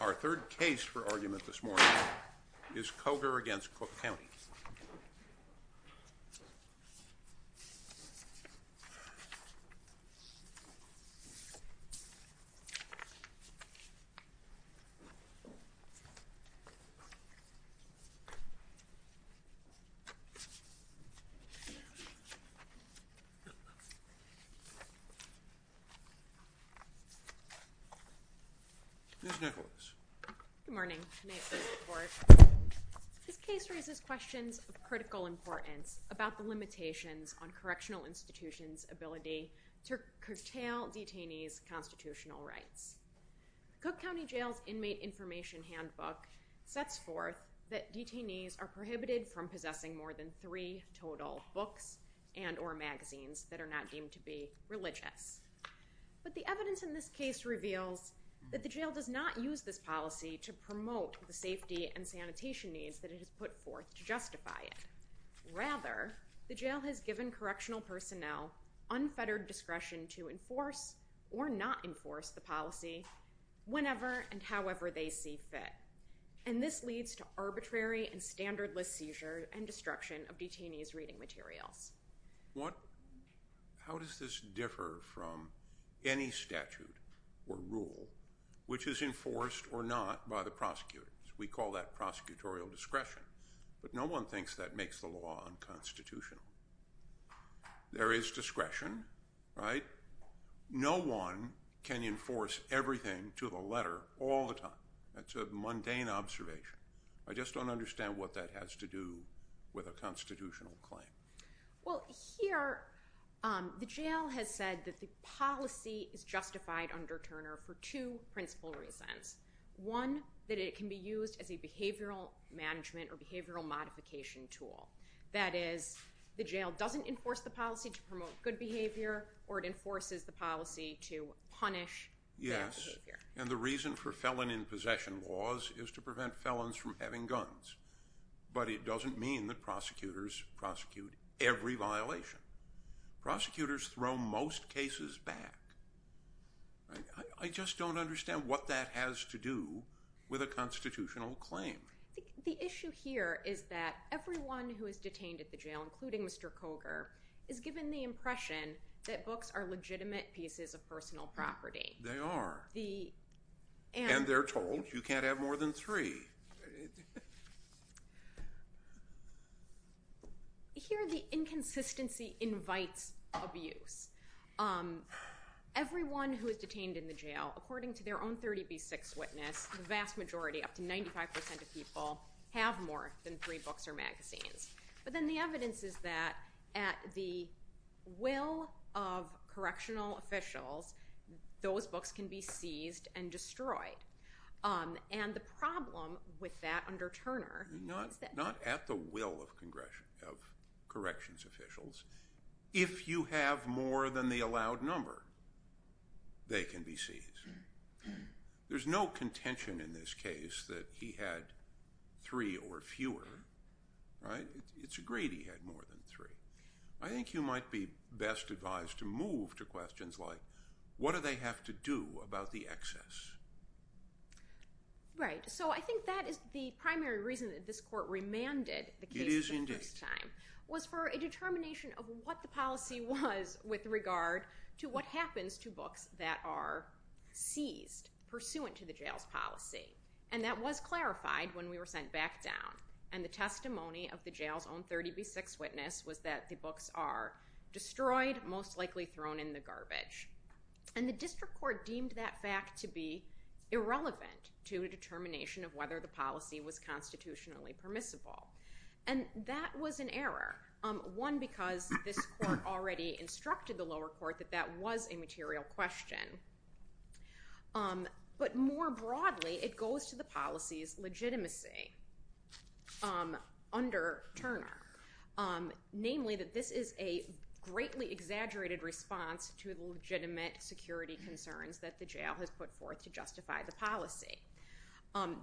Our third case for argument this morning is Koger v. Cook County. Ms. Nicholas. Good morning. May it please the court. This case raises questions of critical importance about the limitations on correctional institutions' ability to curtail detainees' constitutional rights. Cook County Jail's Inmate Information Handbook sets forth that detainees are prohibited from possessing more than three total books and or magazines that are not deemed to be religious. But the evidence in this case reveals that the jail does not use this policy to promote the safety and sanitation needs that it has put forth to justify it. Rather, the jail has given correctional personnel unfettered discretion to enforce or not enforce the policy whenever and however they see fit. And this leads to arbitrary and standardless seizure and destruction of detainees' reading materials. How does this differ from any statute or rule which is enforced or not by the prosecutors? We call that prosecutorial discretion, but no one thinks that makes the law unconstitutional. There is discretion, right? No one can enforce everything to the letter all the time. That's a mundane observation. I just don't understand what that has to do with a constitutional claim. Well, here the jail has said that the policy is justified under Turner for two principal reasons. One, that it can be used as a behavioral management or behavioral modification tool. That is, the jail doesn't enforce the policy to promote good behavior or it enforces the policy to punish bad behavior. And the reason for felon in possession laws is to prevent felons from having guns. But it doesn't mean that prosecutors prosecute every violation. Prosecutors throw most cases back. I just don't understand what that has to do with a constitutional claim. The issue here is that everyone who is detained at the jail, including Mr. Coger, is given the impression that books are legitimate pieces of personal property. They are. And they're told you can't have more than three. Here the inconsistency invites abuse. Everyone who is detained in the jail, according to their own 30 v. 6 witness, the vast majority, up to 95% of people, have more than three books or magazines. But then the evidence is that at the will of correctional officials, those books can be seized and destroyed. And the problem with that under Turner is that... Not at the will of corrections officials. If you have more than the allowed number, they can be seized. There's no contention in this case that he had three or fewer. It's agreed he had more than three. I think you might be best advised to move to questions like, what do they have to do about the excess? Right. So I think that is the primary reason that this court remanded the case for the first time. Was for a determination of what the policy was with regard to what happens to books that are seized, pursuant to the jail's policy. And that was clarified when we were sent back down. And the testimony of the jail's own 30 v. 6 witness was that the books are destroyed, most likely thrown in the garbage. And the district court deemed that fact to be irrelevant to a determination of whether the policy was constitutionally permissible. And that was an error. One, because this court already instructed the lower court that that was a material question. But more broadly, it goes to the policy's legitimacy under Turner. Namely, that this is a greatly exaggerated response to the legitimate security concerns that the jail has put forth to justify the policy.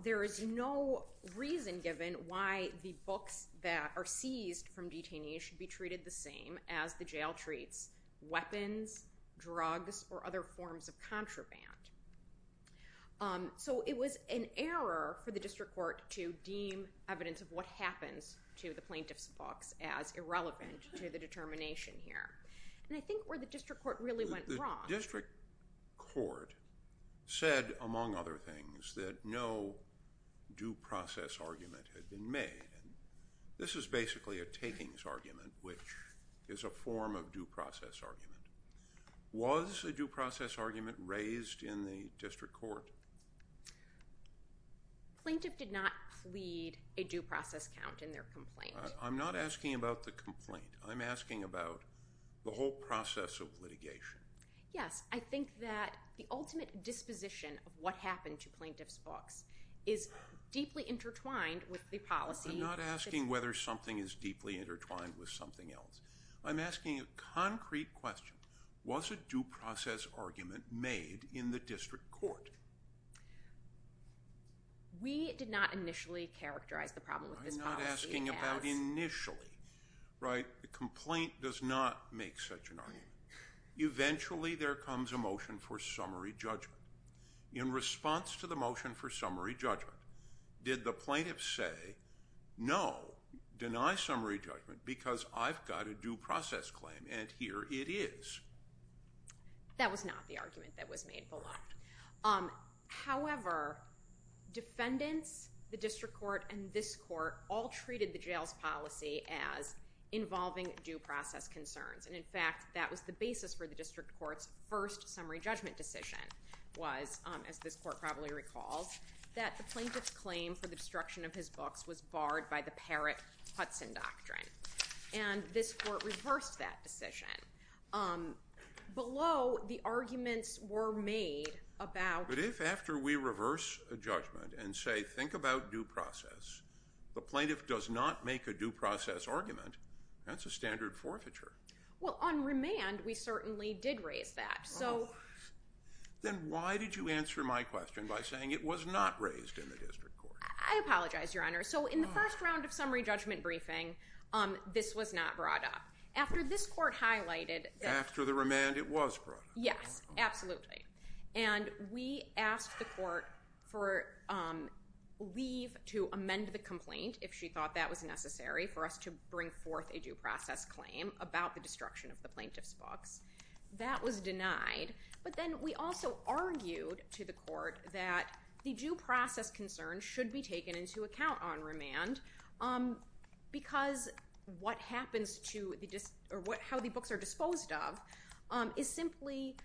There is no reason given why the books that are seized from detainees should be treated the same as the jail treats weapons, drugs, or other forms of contraband. So it was an error for the district court to deem evidence of what happens to the plaintiff's books as irrelevant to the determination here. And I think where the district court really went wrong... The district court said, among other things, that no due process argument had been made. This is basically a takings argument, which is a form of due process argument. Was a due process argument raised in the district court? The plaintiff did not plead a due process count in their complaint. I'm not asking about the complaint. I'm asking about the whole process of litigation. Yes, I think that the ultimate disposition of what happened to plaintiff's books is deeply intertwined with the policy... I'm not asking whether something is deeply intertwined with something else. I'm asking a concrete question. Was a due process argument made in the district court? We did not initially characterize the problem with this policy as... I'm not asking about initially, right? The complaint does not make such an argument. Eventually, there comes a motion for summary judgment. In response to the motion for summary judgment, did the plaintiff say, no, deny summary judgment because I've got a due process claim, and here it is? That was not the argument that was made below. However, defendants, the district court, and this court all treated the jail's policy as involving due process concerns. In fact, that was the basis for the district court's first summary judgment decision was, as this court probably recalls, that the plaintiff's claim for the destruction of his books was barred by the Parrott-Hudson doctrine. And this court reversed that decision. Below, the arguments were made about... But if after we reverse a judgment and say, think about due process, the plaintiff does not make a due process argument, that's a standard forfeiture. Well, on remand, we certainly did raise that. Then why did you answer my question by saying it was not raised in the district court? I apologize, Your Honor. So in the first round of summary judgment briefing, this was not brought up. After this court highlighted... After the remand, it was brought up. Yes, absolutely. And we asked the court for leave to amend the complaint, if she thought that was necessary, for us to bring forth a due process claim about the destruction of the plaintiff's books. That was denied. But then we also argued to the court that the due process concerns should be taken into account on remand because what happens to the... how the books are disposed of is simply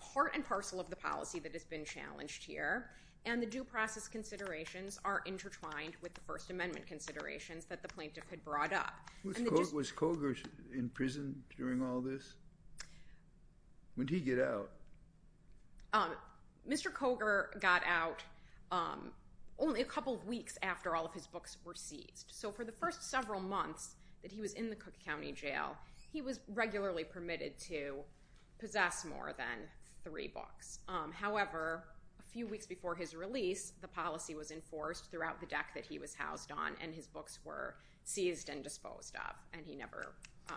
part and parcel of the policy that has been challenged here. And the due process considerations are intertwined with the First Amendment considerations that the plaintiff had brought up. Was Cogar in prison during all this? When did he get out? Mr. Cogar got out only a couple of weeks after all of his books were seized. So for the first several months that he was in the Cook County Jail, he was regularly permitted to possess more than three books. However, a few weeks before his release, the policy was enforced throughout the deck that he was housed on, and his books were seized and disposed of, and he never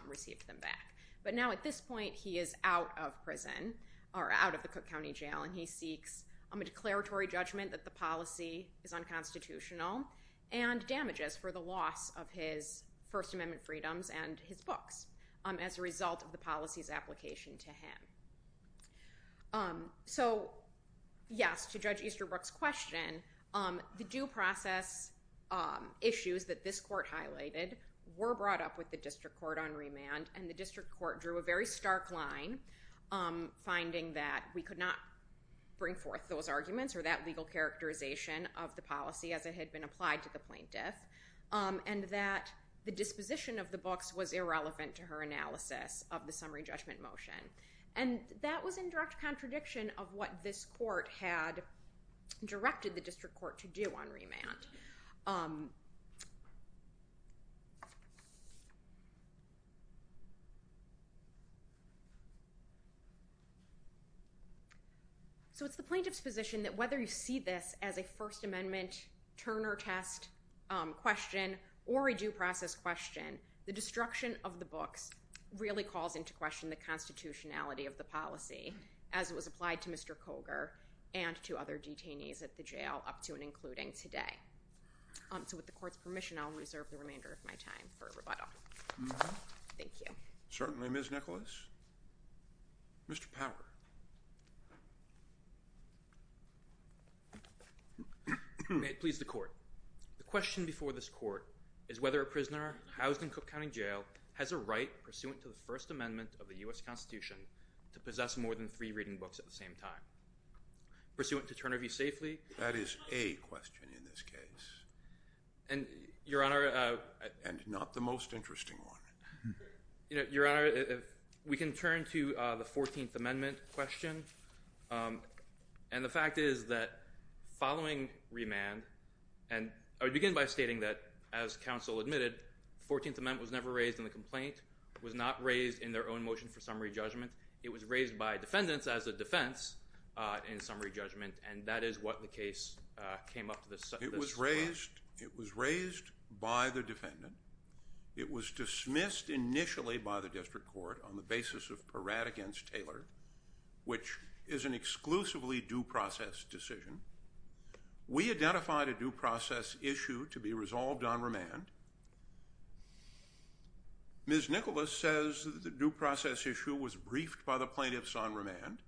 received them back. But now at this point, he is out of prison, or out of the Cook County Jail, and he seeks a declaratory judgment that the policy is unconstitutional and damages for the loss of his First Amendment freedoms and his books as a result of the policy's application to him. So yes, to Judge Easterbrook's question, the due process issues that this court highlighted were brought up with the district court on remand, and the district court drew a very stark line finding that we could not bring forth those arguments or that legal characterization of the policy as it had been applied to the plaintiff, and that the disposition of the books was irrelevant to her analysis of the summary judgment motion. And that was in direct contradiction of what this court had directed the district court to do on remand. So it's the plaintiff's position that whether you see this as a First Amendment Turner test question or a due process question, the destruction of the books really calls into question the constitutionality of the policy as it was applied to Mr. Coger and to other detainees at the jail, up to and including today. So with the court's permission, I'll reserve the remainder of my time for rebuttal. Thank you. Certainly, Ms. Nicholas. Mr. Power. May it please the court. The question before this court is whether a prisoner housed in Cook County Jail has a right pursuant to the First Amendment of the U.S. Constitution to possess more than three reading books at the same time. Pursuant to Turner v. Safely? That is a question in this case. And, Your Honor— And not the most interesting one. Your Honor, we can turn to the 14th Amendment question. And the fact is that following remand— I would begin by stating that, as counsel admitted, the 14th Amendment was never raised in the complaint. It was not raised in their own motion for summary judgment. It was raised by defendants as a defense in summary judgment, and that is what the case came up with. It was raised by the defendant. It was dismissed initially by the district court on the basis of Peratt v. Taylor, which is an exclusively due process decision. We identified a due process issue to be resolved on remand. Ms. Nicholas says that the due process issue was briefed by the plaintiffs on remand,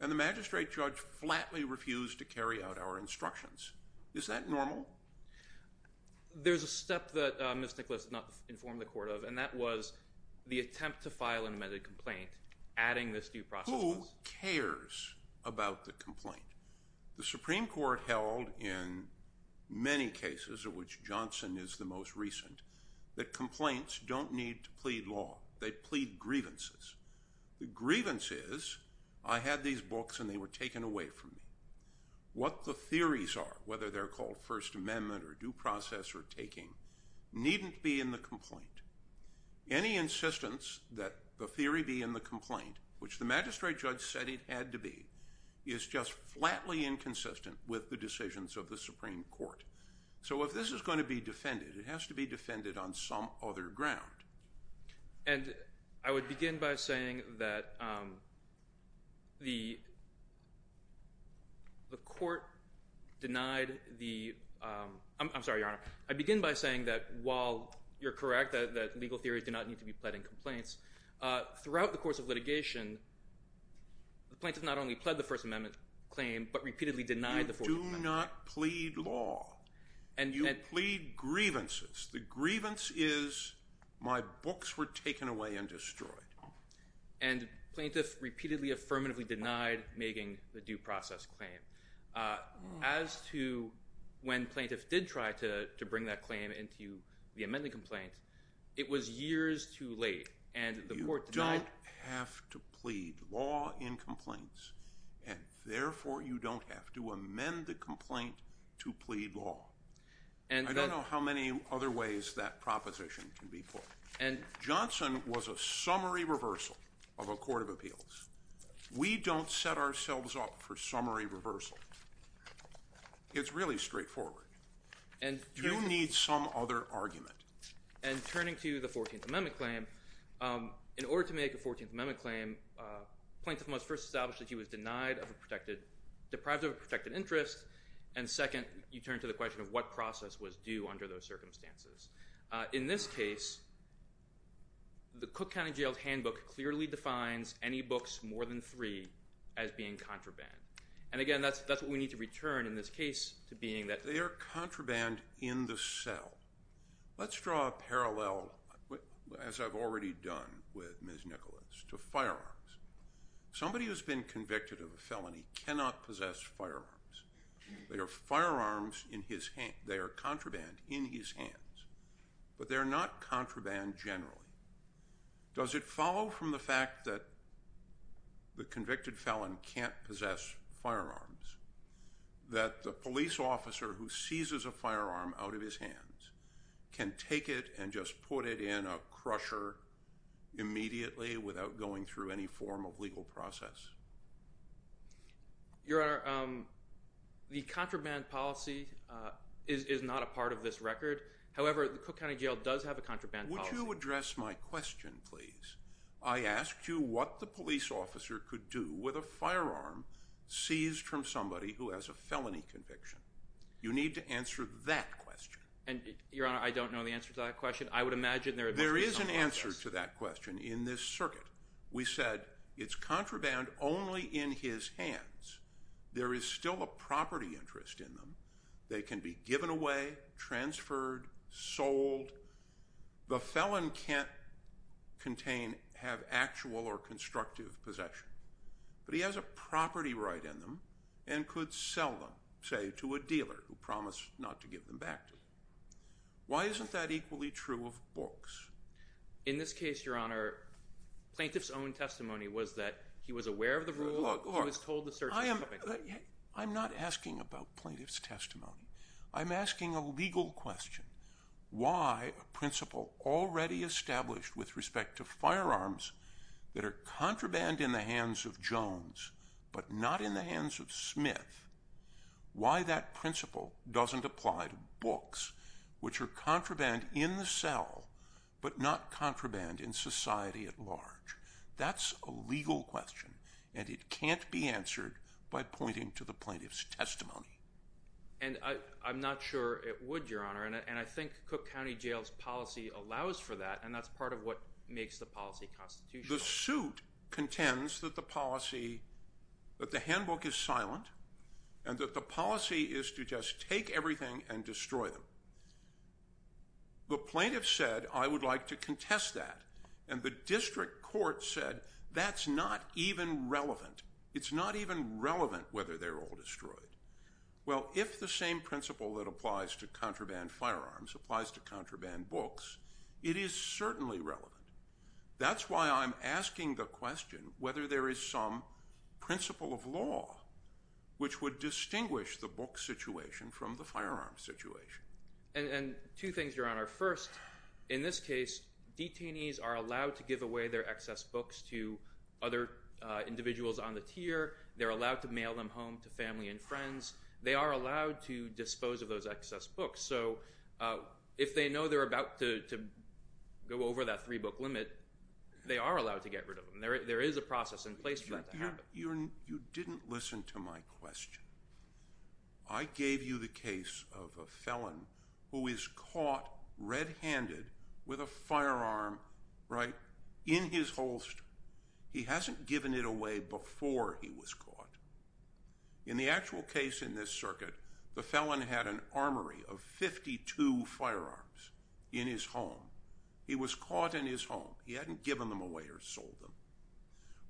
and the magistrate judge flatly refused to carry out our instructions. Is that normal? There's a step that Ms. Nicholas did not inform the court of, and that was the attempt to file an amended complaint, adding this due process— Who cares about the complaint? The Supreme Court held in many cases, of which Johnson is the most recent, that complaints don't need to plead law. They plead grievances. The grievance is, I had these books and they were taken away from me. What the theories are, whether they're called First Amendment or due process or taking, needn't be in the complaint. Any insistence that the theory be in the complaint, which the magistrate judge said it had to be, is just flatly inconsistent with the decisions of the Supreme Court. So if this is going to be defended, it has to be defended on some other ground. And I would begin by saying that the court denied the— I'm sorry, Your Honor. I begin by saying that while you're correct that legal theories do not need to be pled in complaints, throughout the course of litigation, the plaintiff not only pled the First Amendment claim, but repeatedly denied the First Amendment claim. You do not plead law. You plead grievances. The grievance is, my books were taken away and destroyed. And plaintiff repeatedly affirmatively denied making the due process claim. As to when plaintiff did try to bring that claim into the amended complaint, it was years too late, and the court denied— You don't have to plead law in complaints, and therefore you don't have to amend the complaint to plead law. I don't know how many other ways that proposition can be put. Johnson was a summary reversal of a court of appeals. We don't set ourselves up for summary reversal. It's really straightforward. You need some other argument. And turning to the 14th Amendment claim, in order to make a 14th Amendment claim, plaintiff must first establish that he was denied of a protected— deprived of a protected interest, and second, you turn to the question of what process was due under those circumstances. In this case, the Cook County Jail's handbook clearly defines any books more than three as being contraband. And again, that's what we need to return in this case to being that— They are contraband in the cell. Let's draw a parallel, as I've already done with Ms. Nicholas, to firearms. Somebody who's been convicted of a felony cannot possess firearms. They are firearms in his—they are contraband in his hands. But they're not contraband generally. Does it follow from the fact that the convicted felon can't possess firearms that the police officer who seizes a firearm out of his hands can take it and just put it in a crusher immediately without going through any form of legal process? Your Honor, the contraband policy is not a part of this record. However, the Cook County Jail does have a contraband policy. Would you address my question, please? I asked you what the police officer could do with a firearm seized from somebody who has a felony conviction. You need to answer that question. And, Your Honor, I don't know the answer to that question. I would imagine there would be some— There is an answer to that question in this circuit. We said it's contraband only in his hands. There is still a property interest in them. They can be given away, transferred, sold. The felon can't contain—have actual or constructive possession. But he has a property right in them and could sell them, say, to a dealer who promised not to give them back to him. Why isn't that equally true of books? In this case, Your Honor, plaintiff's own testimony was that he was aware of the rule. He was told the search was coming. I'm not asking about plaintiff's testimony. I'm asking a legal question. Why a principle already established with respect to firearms that are contraband in the hands of Jones but not in the hands of Smith, why that principle doesn't apply to books which are contraband in the cell but not contraband in society at large? That's a legal question, and it can't be answered by pointing to the plaintiff's testimony. And I'm not sure it would, Your Honor. And I think Cook County Jail's policy allows for that, and that's part of what makes the policy constitutional. The suit contends that the policy—that the handbook is silent and that the policy is to just take everything and destroy them. The plaintiff said, I would like to contest that, and the district court said that's not even relevant. It's not even relevant whether they're all destroyed. Well, if the same principle that applies to contraband firearms applies to contraband books, it is certainly relevant. That's why I'm asking the question whether there is some principle of law which would distinguish the book situation from the firearm situation. And two things, Your Honor. First, in this case, detainees are allowed to give away their excess books to other individuals on the tier. They're allowed to mail them home to family and friends. They are allowed to dispose of those excess books. So if they know they're about to go over that three-book limit, they are allowed to get rid of them. There is a process in place for that to happen. You didn't listen to my question. I gave you the case of a felon who is caught red-handed with a firearm in his holster. He hasn't given it away before he was caught. In the actual case in this circuit, the felon had an armory of 52 firearms in his home. He was caught in his home. He hadn't given them away or sold them.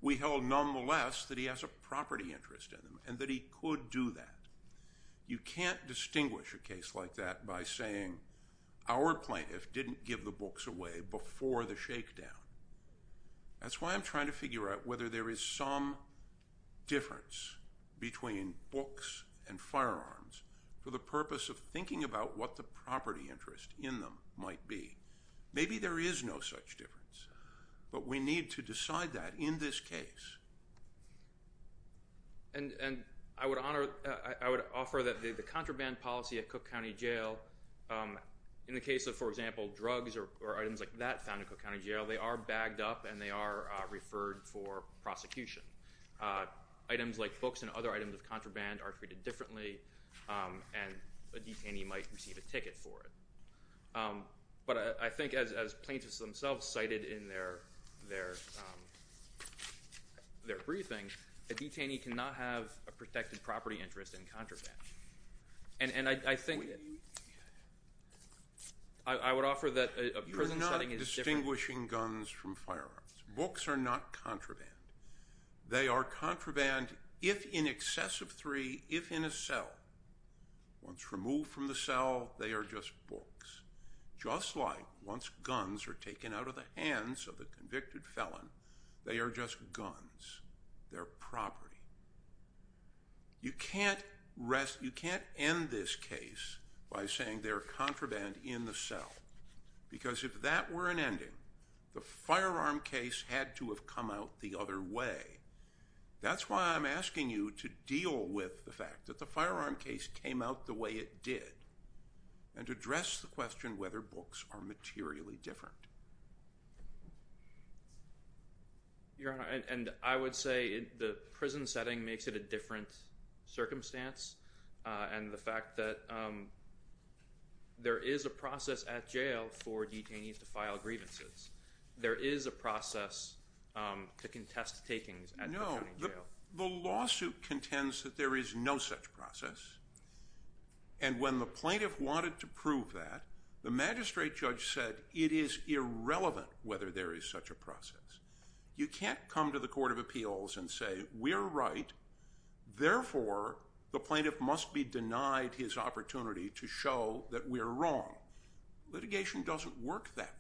We held nonetheless that he has a property interest in him and that he could do that. You can't distinguish a case like that by saying our plaintiff didn't give the books away before the shakedown. That's why I'm trying to figure out whether there is some difference between books and firearms for the purpose of thinking about what the property interest in them might be. Maybe there is no such difference, but we need to decide that in this case. I would offer that the contraband policy at Cook County Jail, in the case of, for example, drugs or items like that found at Cook County Jail, they are bagged up and they are referred for prosecution. Items like books and other items of contraband are treated differently, and a detainee might receive a ticket for it. But I think as plaintiffs themselves cited in their briefing, a detainee cannot have a protected property interest in contraband. I would offer that a prison setting is different. You're not distinguishing guns from firearms. Books are not contraband. They are contraband if in excess of three, if in a cell. Once removed from the cell, they are just books. Just like once guns are taken out of the hands of the convicted felon, they are just guns. They're property. You can't end this case by saying they're contraband in the cell, because if that were an ending, the firearm case had to have come out the other way. That's why I'm asking you to deal with the fact that the firearm case came out the way it did, and to address the question whether books are materially different. Your Honor, and I would say the prison setting makes it a different circumstance, and the fact that there is a process at jail for detainees to file grievances. There is a process to contest takings at the county jail. No, the lawsuit contends that there is no such process, and when the plaintiff wanted to prove that, the magistrate judge said it is irrelevant whether there is such a process. You can't come to the Court of Appeals and say we're right, therefore the plaintiff must be denied his opportunity to show that we're wrong. Litigation doesn't work that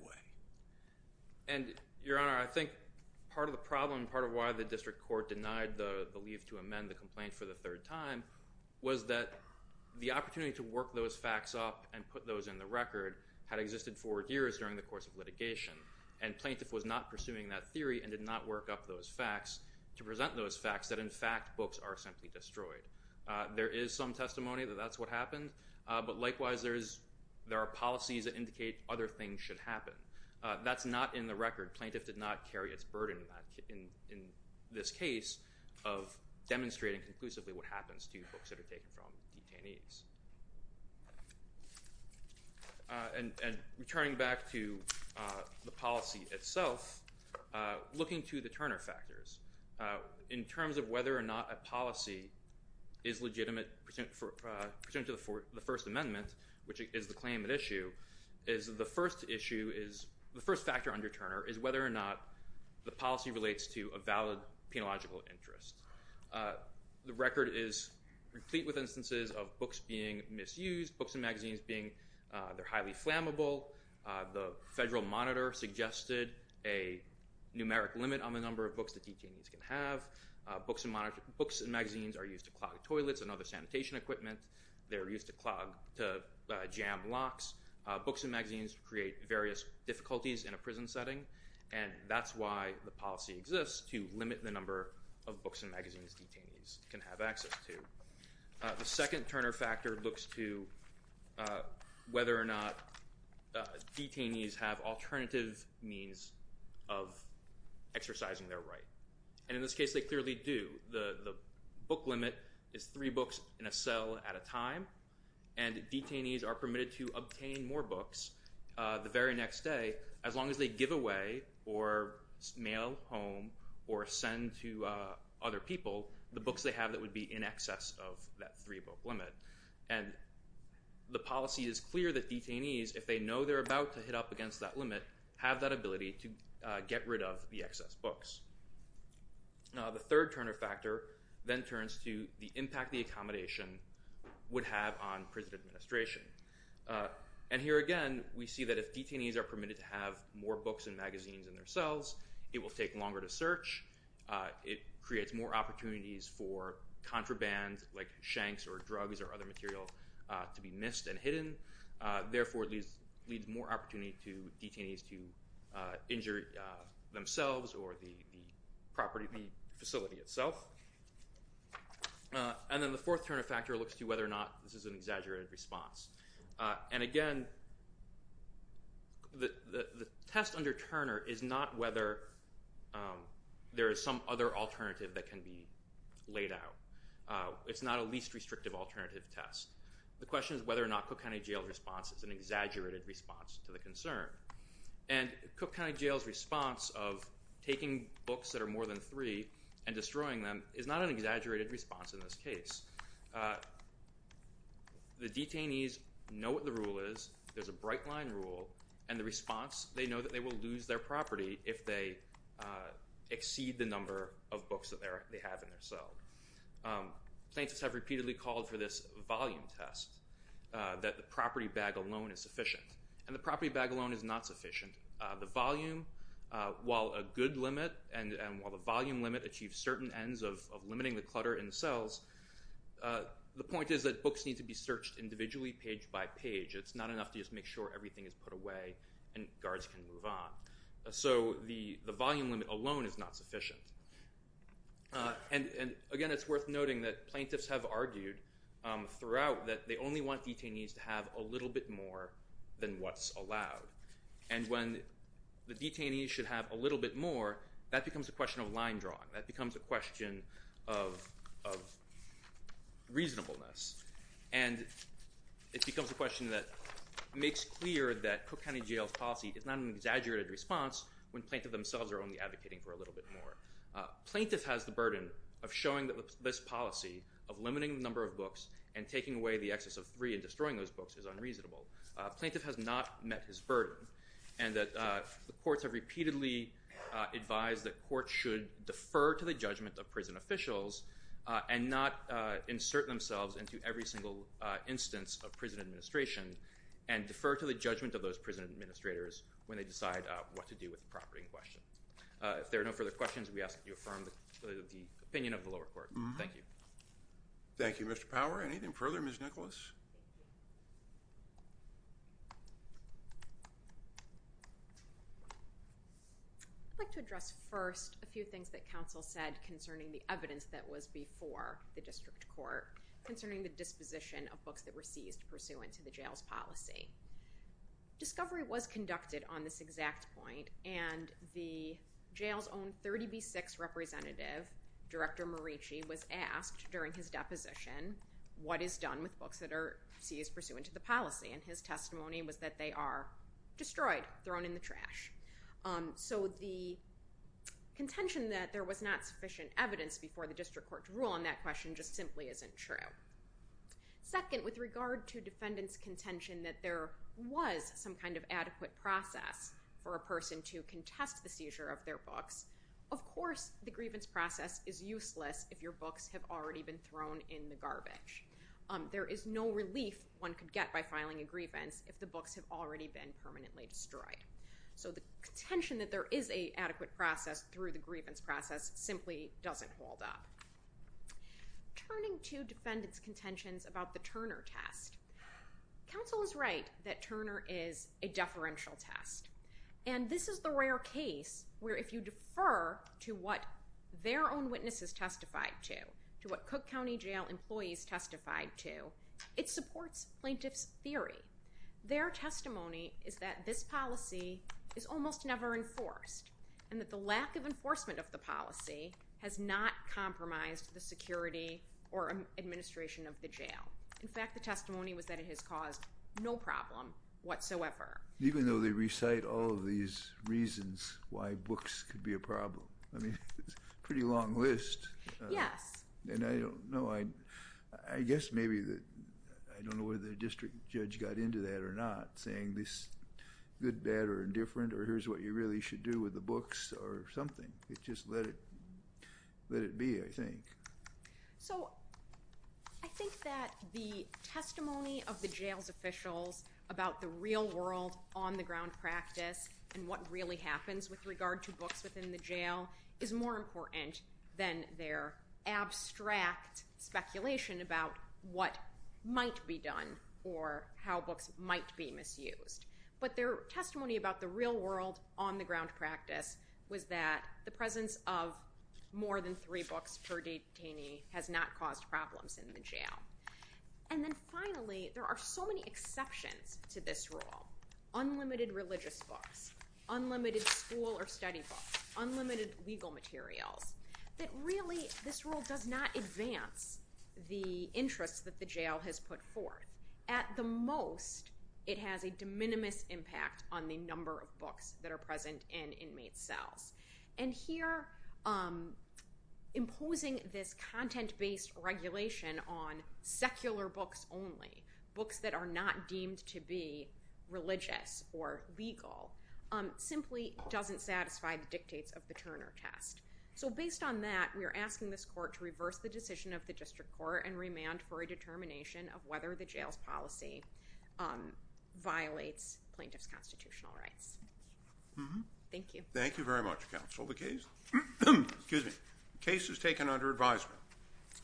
way. Your Honor, I think part of the problem, part of why the district court denied the leave to amend the complaint for the third time, was that the opportunity to work those facts up and put those in the record had existed for years during the course of litigation, and plaintiff was not pursuing that theory and did not work up those facts to present those facts that in fact books are simply destroyed. There is some testimony that that's what happened, but likewise there are policies that indicate other things should happen. That's not in the record. Plaintiff did not carry its burden in this case of demonstrating conclusively what happens to books that are taken from detainees. Returning back to the policy itself, looking to the Turner factors, in terms of whether or not a policy is legitimate, pursuant to the First Amendment, which is the claim at issue, the first factor under Turner is whether or not the policy relates to a valid penological interest. The record is complete with instances of books being misused, books and magazines being highly flammable, the federal monitor suggested a numeric limit on the number of books that detainees can have, books and magazines are used to clog toilets and other sanitation equipment, they're used to jam locks, books and magazines create various difficulties in a prison setting, and that's why the policy exists to limit the number of books and magazines detainees can have access to. The second Turner factor looks to whether or not detainees have alternative means of exercising their right. And in this case, they clearly do. The book limit is three books in a cell at a time, and detainees are permitted to obtain more books the very next day, as long as they give away or mail home or send to other people the books they have that would be in excess of that three-book limit. And the policy is clear that detainees, if they know they're about to hit up against that limit, have that ability to get rid of the excess books. The third Turner factor then turns to the impact the accommodation would have on prison administration. And here again, we see that if detainees are permitted to have more books and magazines in their cells, it will take longer to search. It creates more opportunities for contraband like shanks or drugs or other material to be missed and hidden. Therefore, it leaves more opportunity to detainees to injure themselves or the facility itself. And then the fourth Turner factor looks to whether or not this is an exaggerated response. And again, the test under Turner is not whether there is some other alternative that can be laid out. It's not a least restrictive alternative test. The question is whether or not Cook County Jail's response is an exaggerated response to the concern. And Cook County Jail's response of taking books that are more than three and destroying them is not an exaggerated response in this case. The detainees know what the rule is. There's a bright line rule. And the response, they know that they will lose their property if they exceed the number of books that they have in their cell. Plaintiffs have repeatedly called for this volume test that the property bag alone is sufficient. And the property bag alone is not sufficient. The volume, while a good limit and while the volume limit achieves certain ends of limiting the clutter in the cells, the point is that books need to be searched individually page by page. It's not enough to just make sure everything is put away and guards can move on. So the volume limit alone is not sufficient. And again, it's worth noting that plaintiffs have argued throughout that they only want detainees to have a little bit more than what's allowed. And when the detainees should have a little bit more, that becomes a question of line drawing. That becomes a question of reasonableness. And it becomes a question that makes clear that Cook County Jail's policy is not an exaggerated response when plaintiff themselves are only advocating for a little bit more. Plaintiff has the burden of showing that this policy of limiting the number of books and taking away the excess of three and destroying those books is unreasonable. Plaintiff has not met his burden and that the courts have repeatedly advised that courts should defer to the judgment of prison officials and not insert themselves into every single instance of prison administration and defer to the judgment of those prison administrators when they decide what to do with the property in question. If there are no further questions, we ask that you affirm the opinion of the lower court. Thank you. Thank you, Mr. Power. Anything further, Ms. Nicholas? I'd like to address first a few things that counsel said concerning the evidence that was before the district court concerning the disposition of books that were seized pursuant to the jail's policy. Discovery was conducted on this exact point and the jail's own 30B6 representative, Director Marici, was asked during his deposition what is done with books that are seized pursuant to the policy and his testimony was that they are destroyed, thrown in the trash. So the contention that there was not sufficient evidence before the district court to rule on that question just simply isn't true. Second, with regard to defendants' contention that there was some kind of adequate process for a person to contest the seizure of their books, of course the grievance process is useless if your books have already been thrown in the garbage. There is no relief one could get by filing a grievance if the books have already been permanently destroyed. So the contention that there is an adequate process through the grievance process simply doesn't hold up. Turning to defendants' contentions about the Turner test, counsel is right that Turner is a deferential test and this is the rare case where if you defer to what their own witnesses testified to, to what Cook County Jail employees testified to, it supports plaintiff's theory. Their testimony is that this policy is almost never enforced and that the lack of enforcement of the policy has not compromised the security or administration of the jail. In fact, the testimony was that it has caused no problem whatsoever. Even though they recite all of these reasons why books could be a problem, I mean, it's a pretty long list. Yes. And I don't know, I guess maybe that, I don't know whether the district judge got into that or not, saying this, good, bad, or indifferent, or here's what you really should do with the books or something. It just let it, let it be, I think. So I think that the testimony of the jail's officials about the real world on the ground practice and what really happens with regard to books within the jail is more important than their abstract speculation about what might be done or how books might be misused. But their testimony about the real world on the ground practice was that the presence of more than three books per detainee has not caused problems in the jail. And then finally, there are so many exceptions to this rule. Unlimited religious books. Unlimited school or study books. Unlimited legal materials. That really, this rule does not advance the interests that the jail has put forth. At the most, it has a de minimis impact on the number of books that are present in inmate cells. And here, imposing this content-based regulation on secular books only, books that are not deemed to be religious or legal, simply doesn't satisfy the dictates of the Turner test. So based on that, we are asking this court to reverse the decision of the district court and remand for a determination of whether the jail's policy violates plaintiff's constitutional rights. Thank you. Thank you very much, counsel. The case, excuse me, the case is taken under advisement.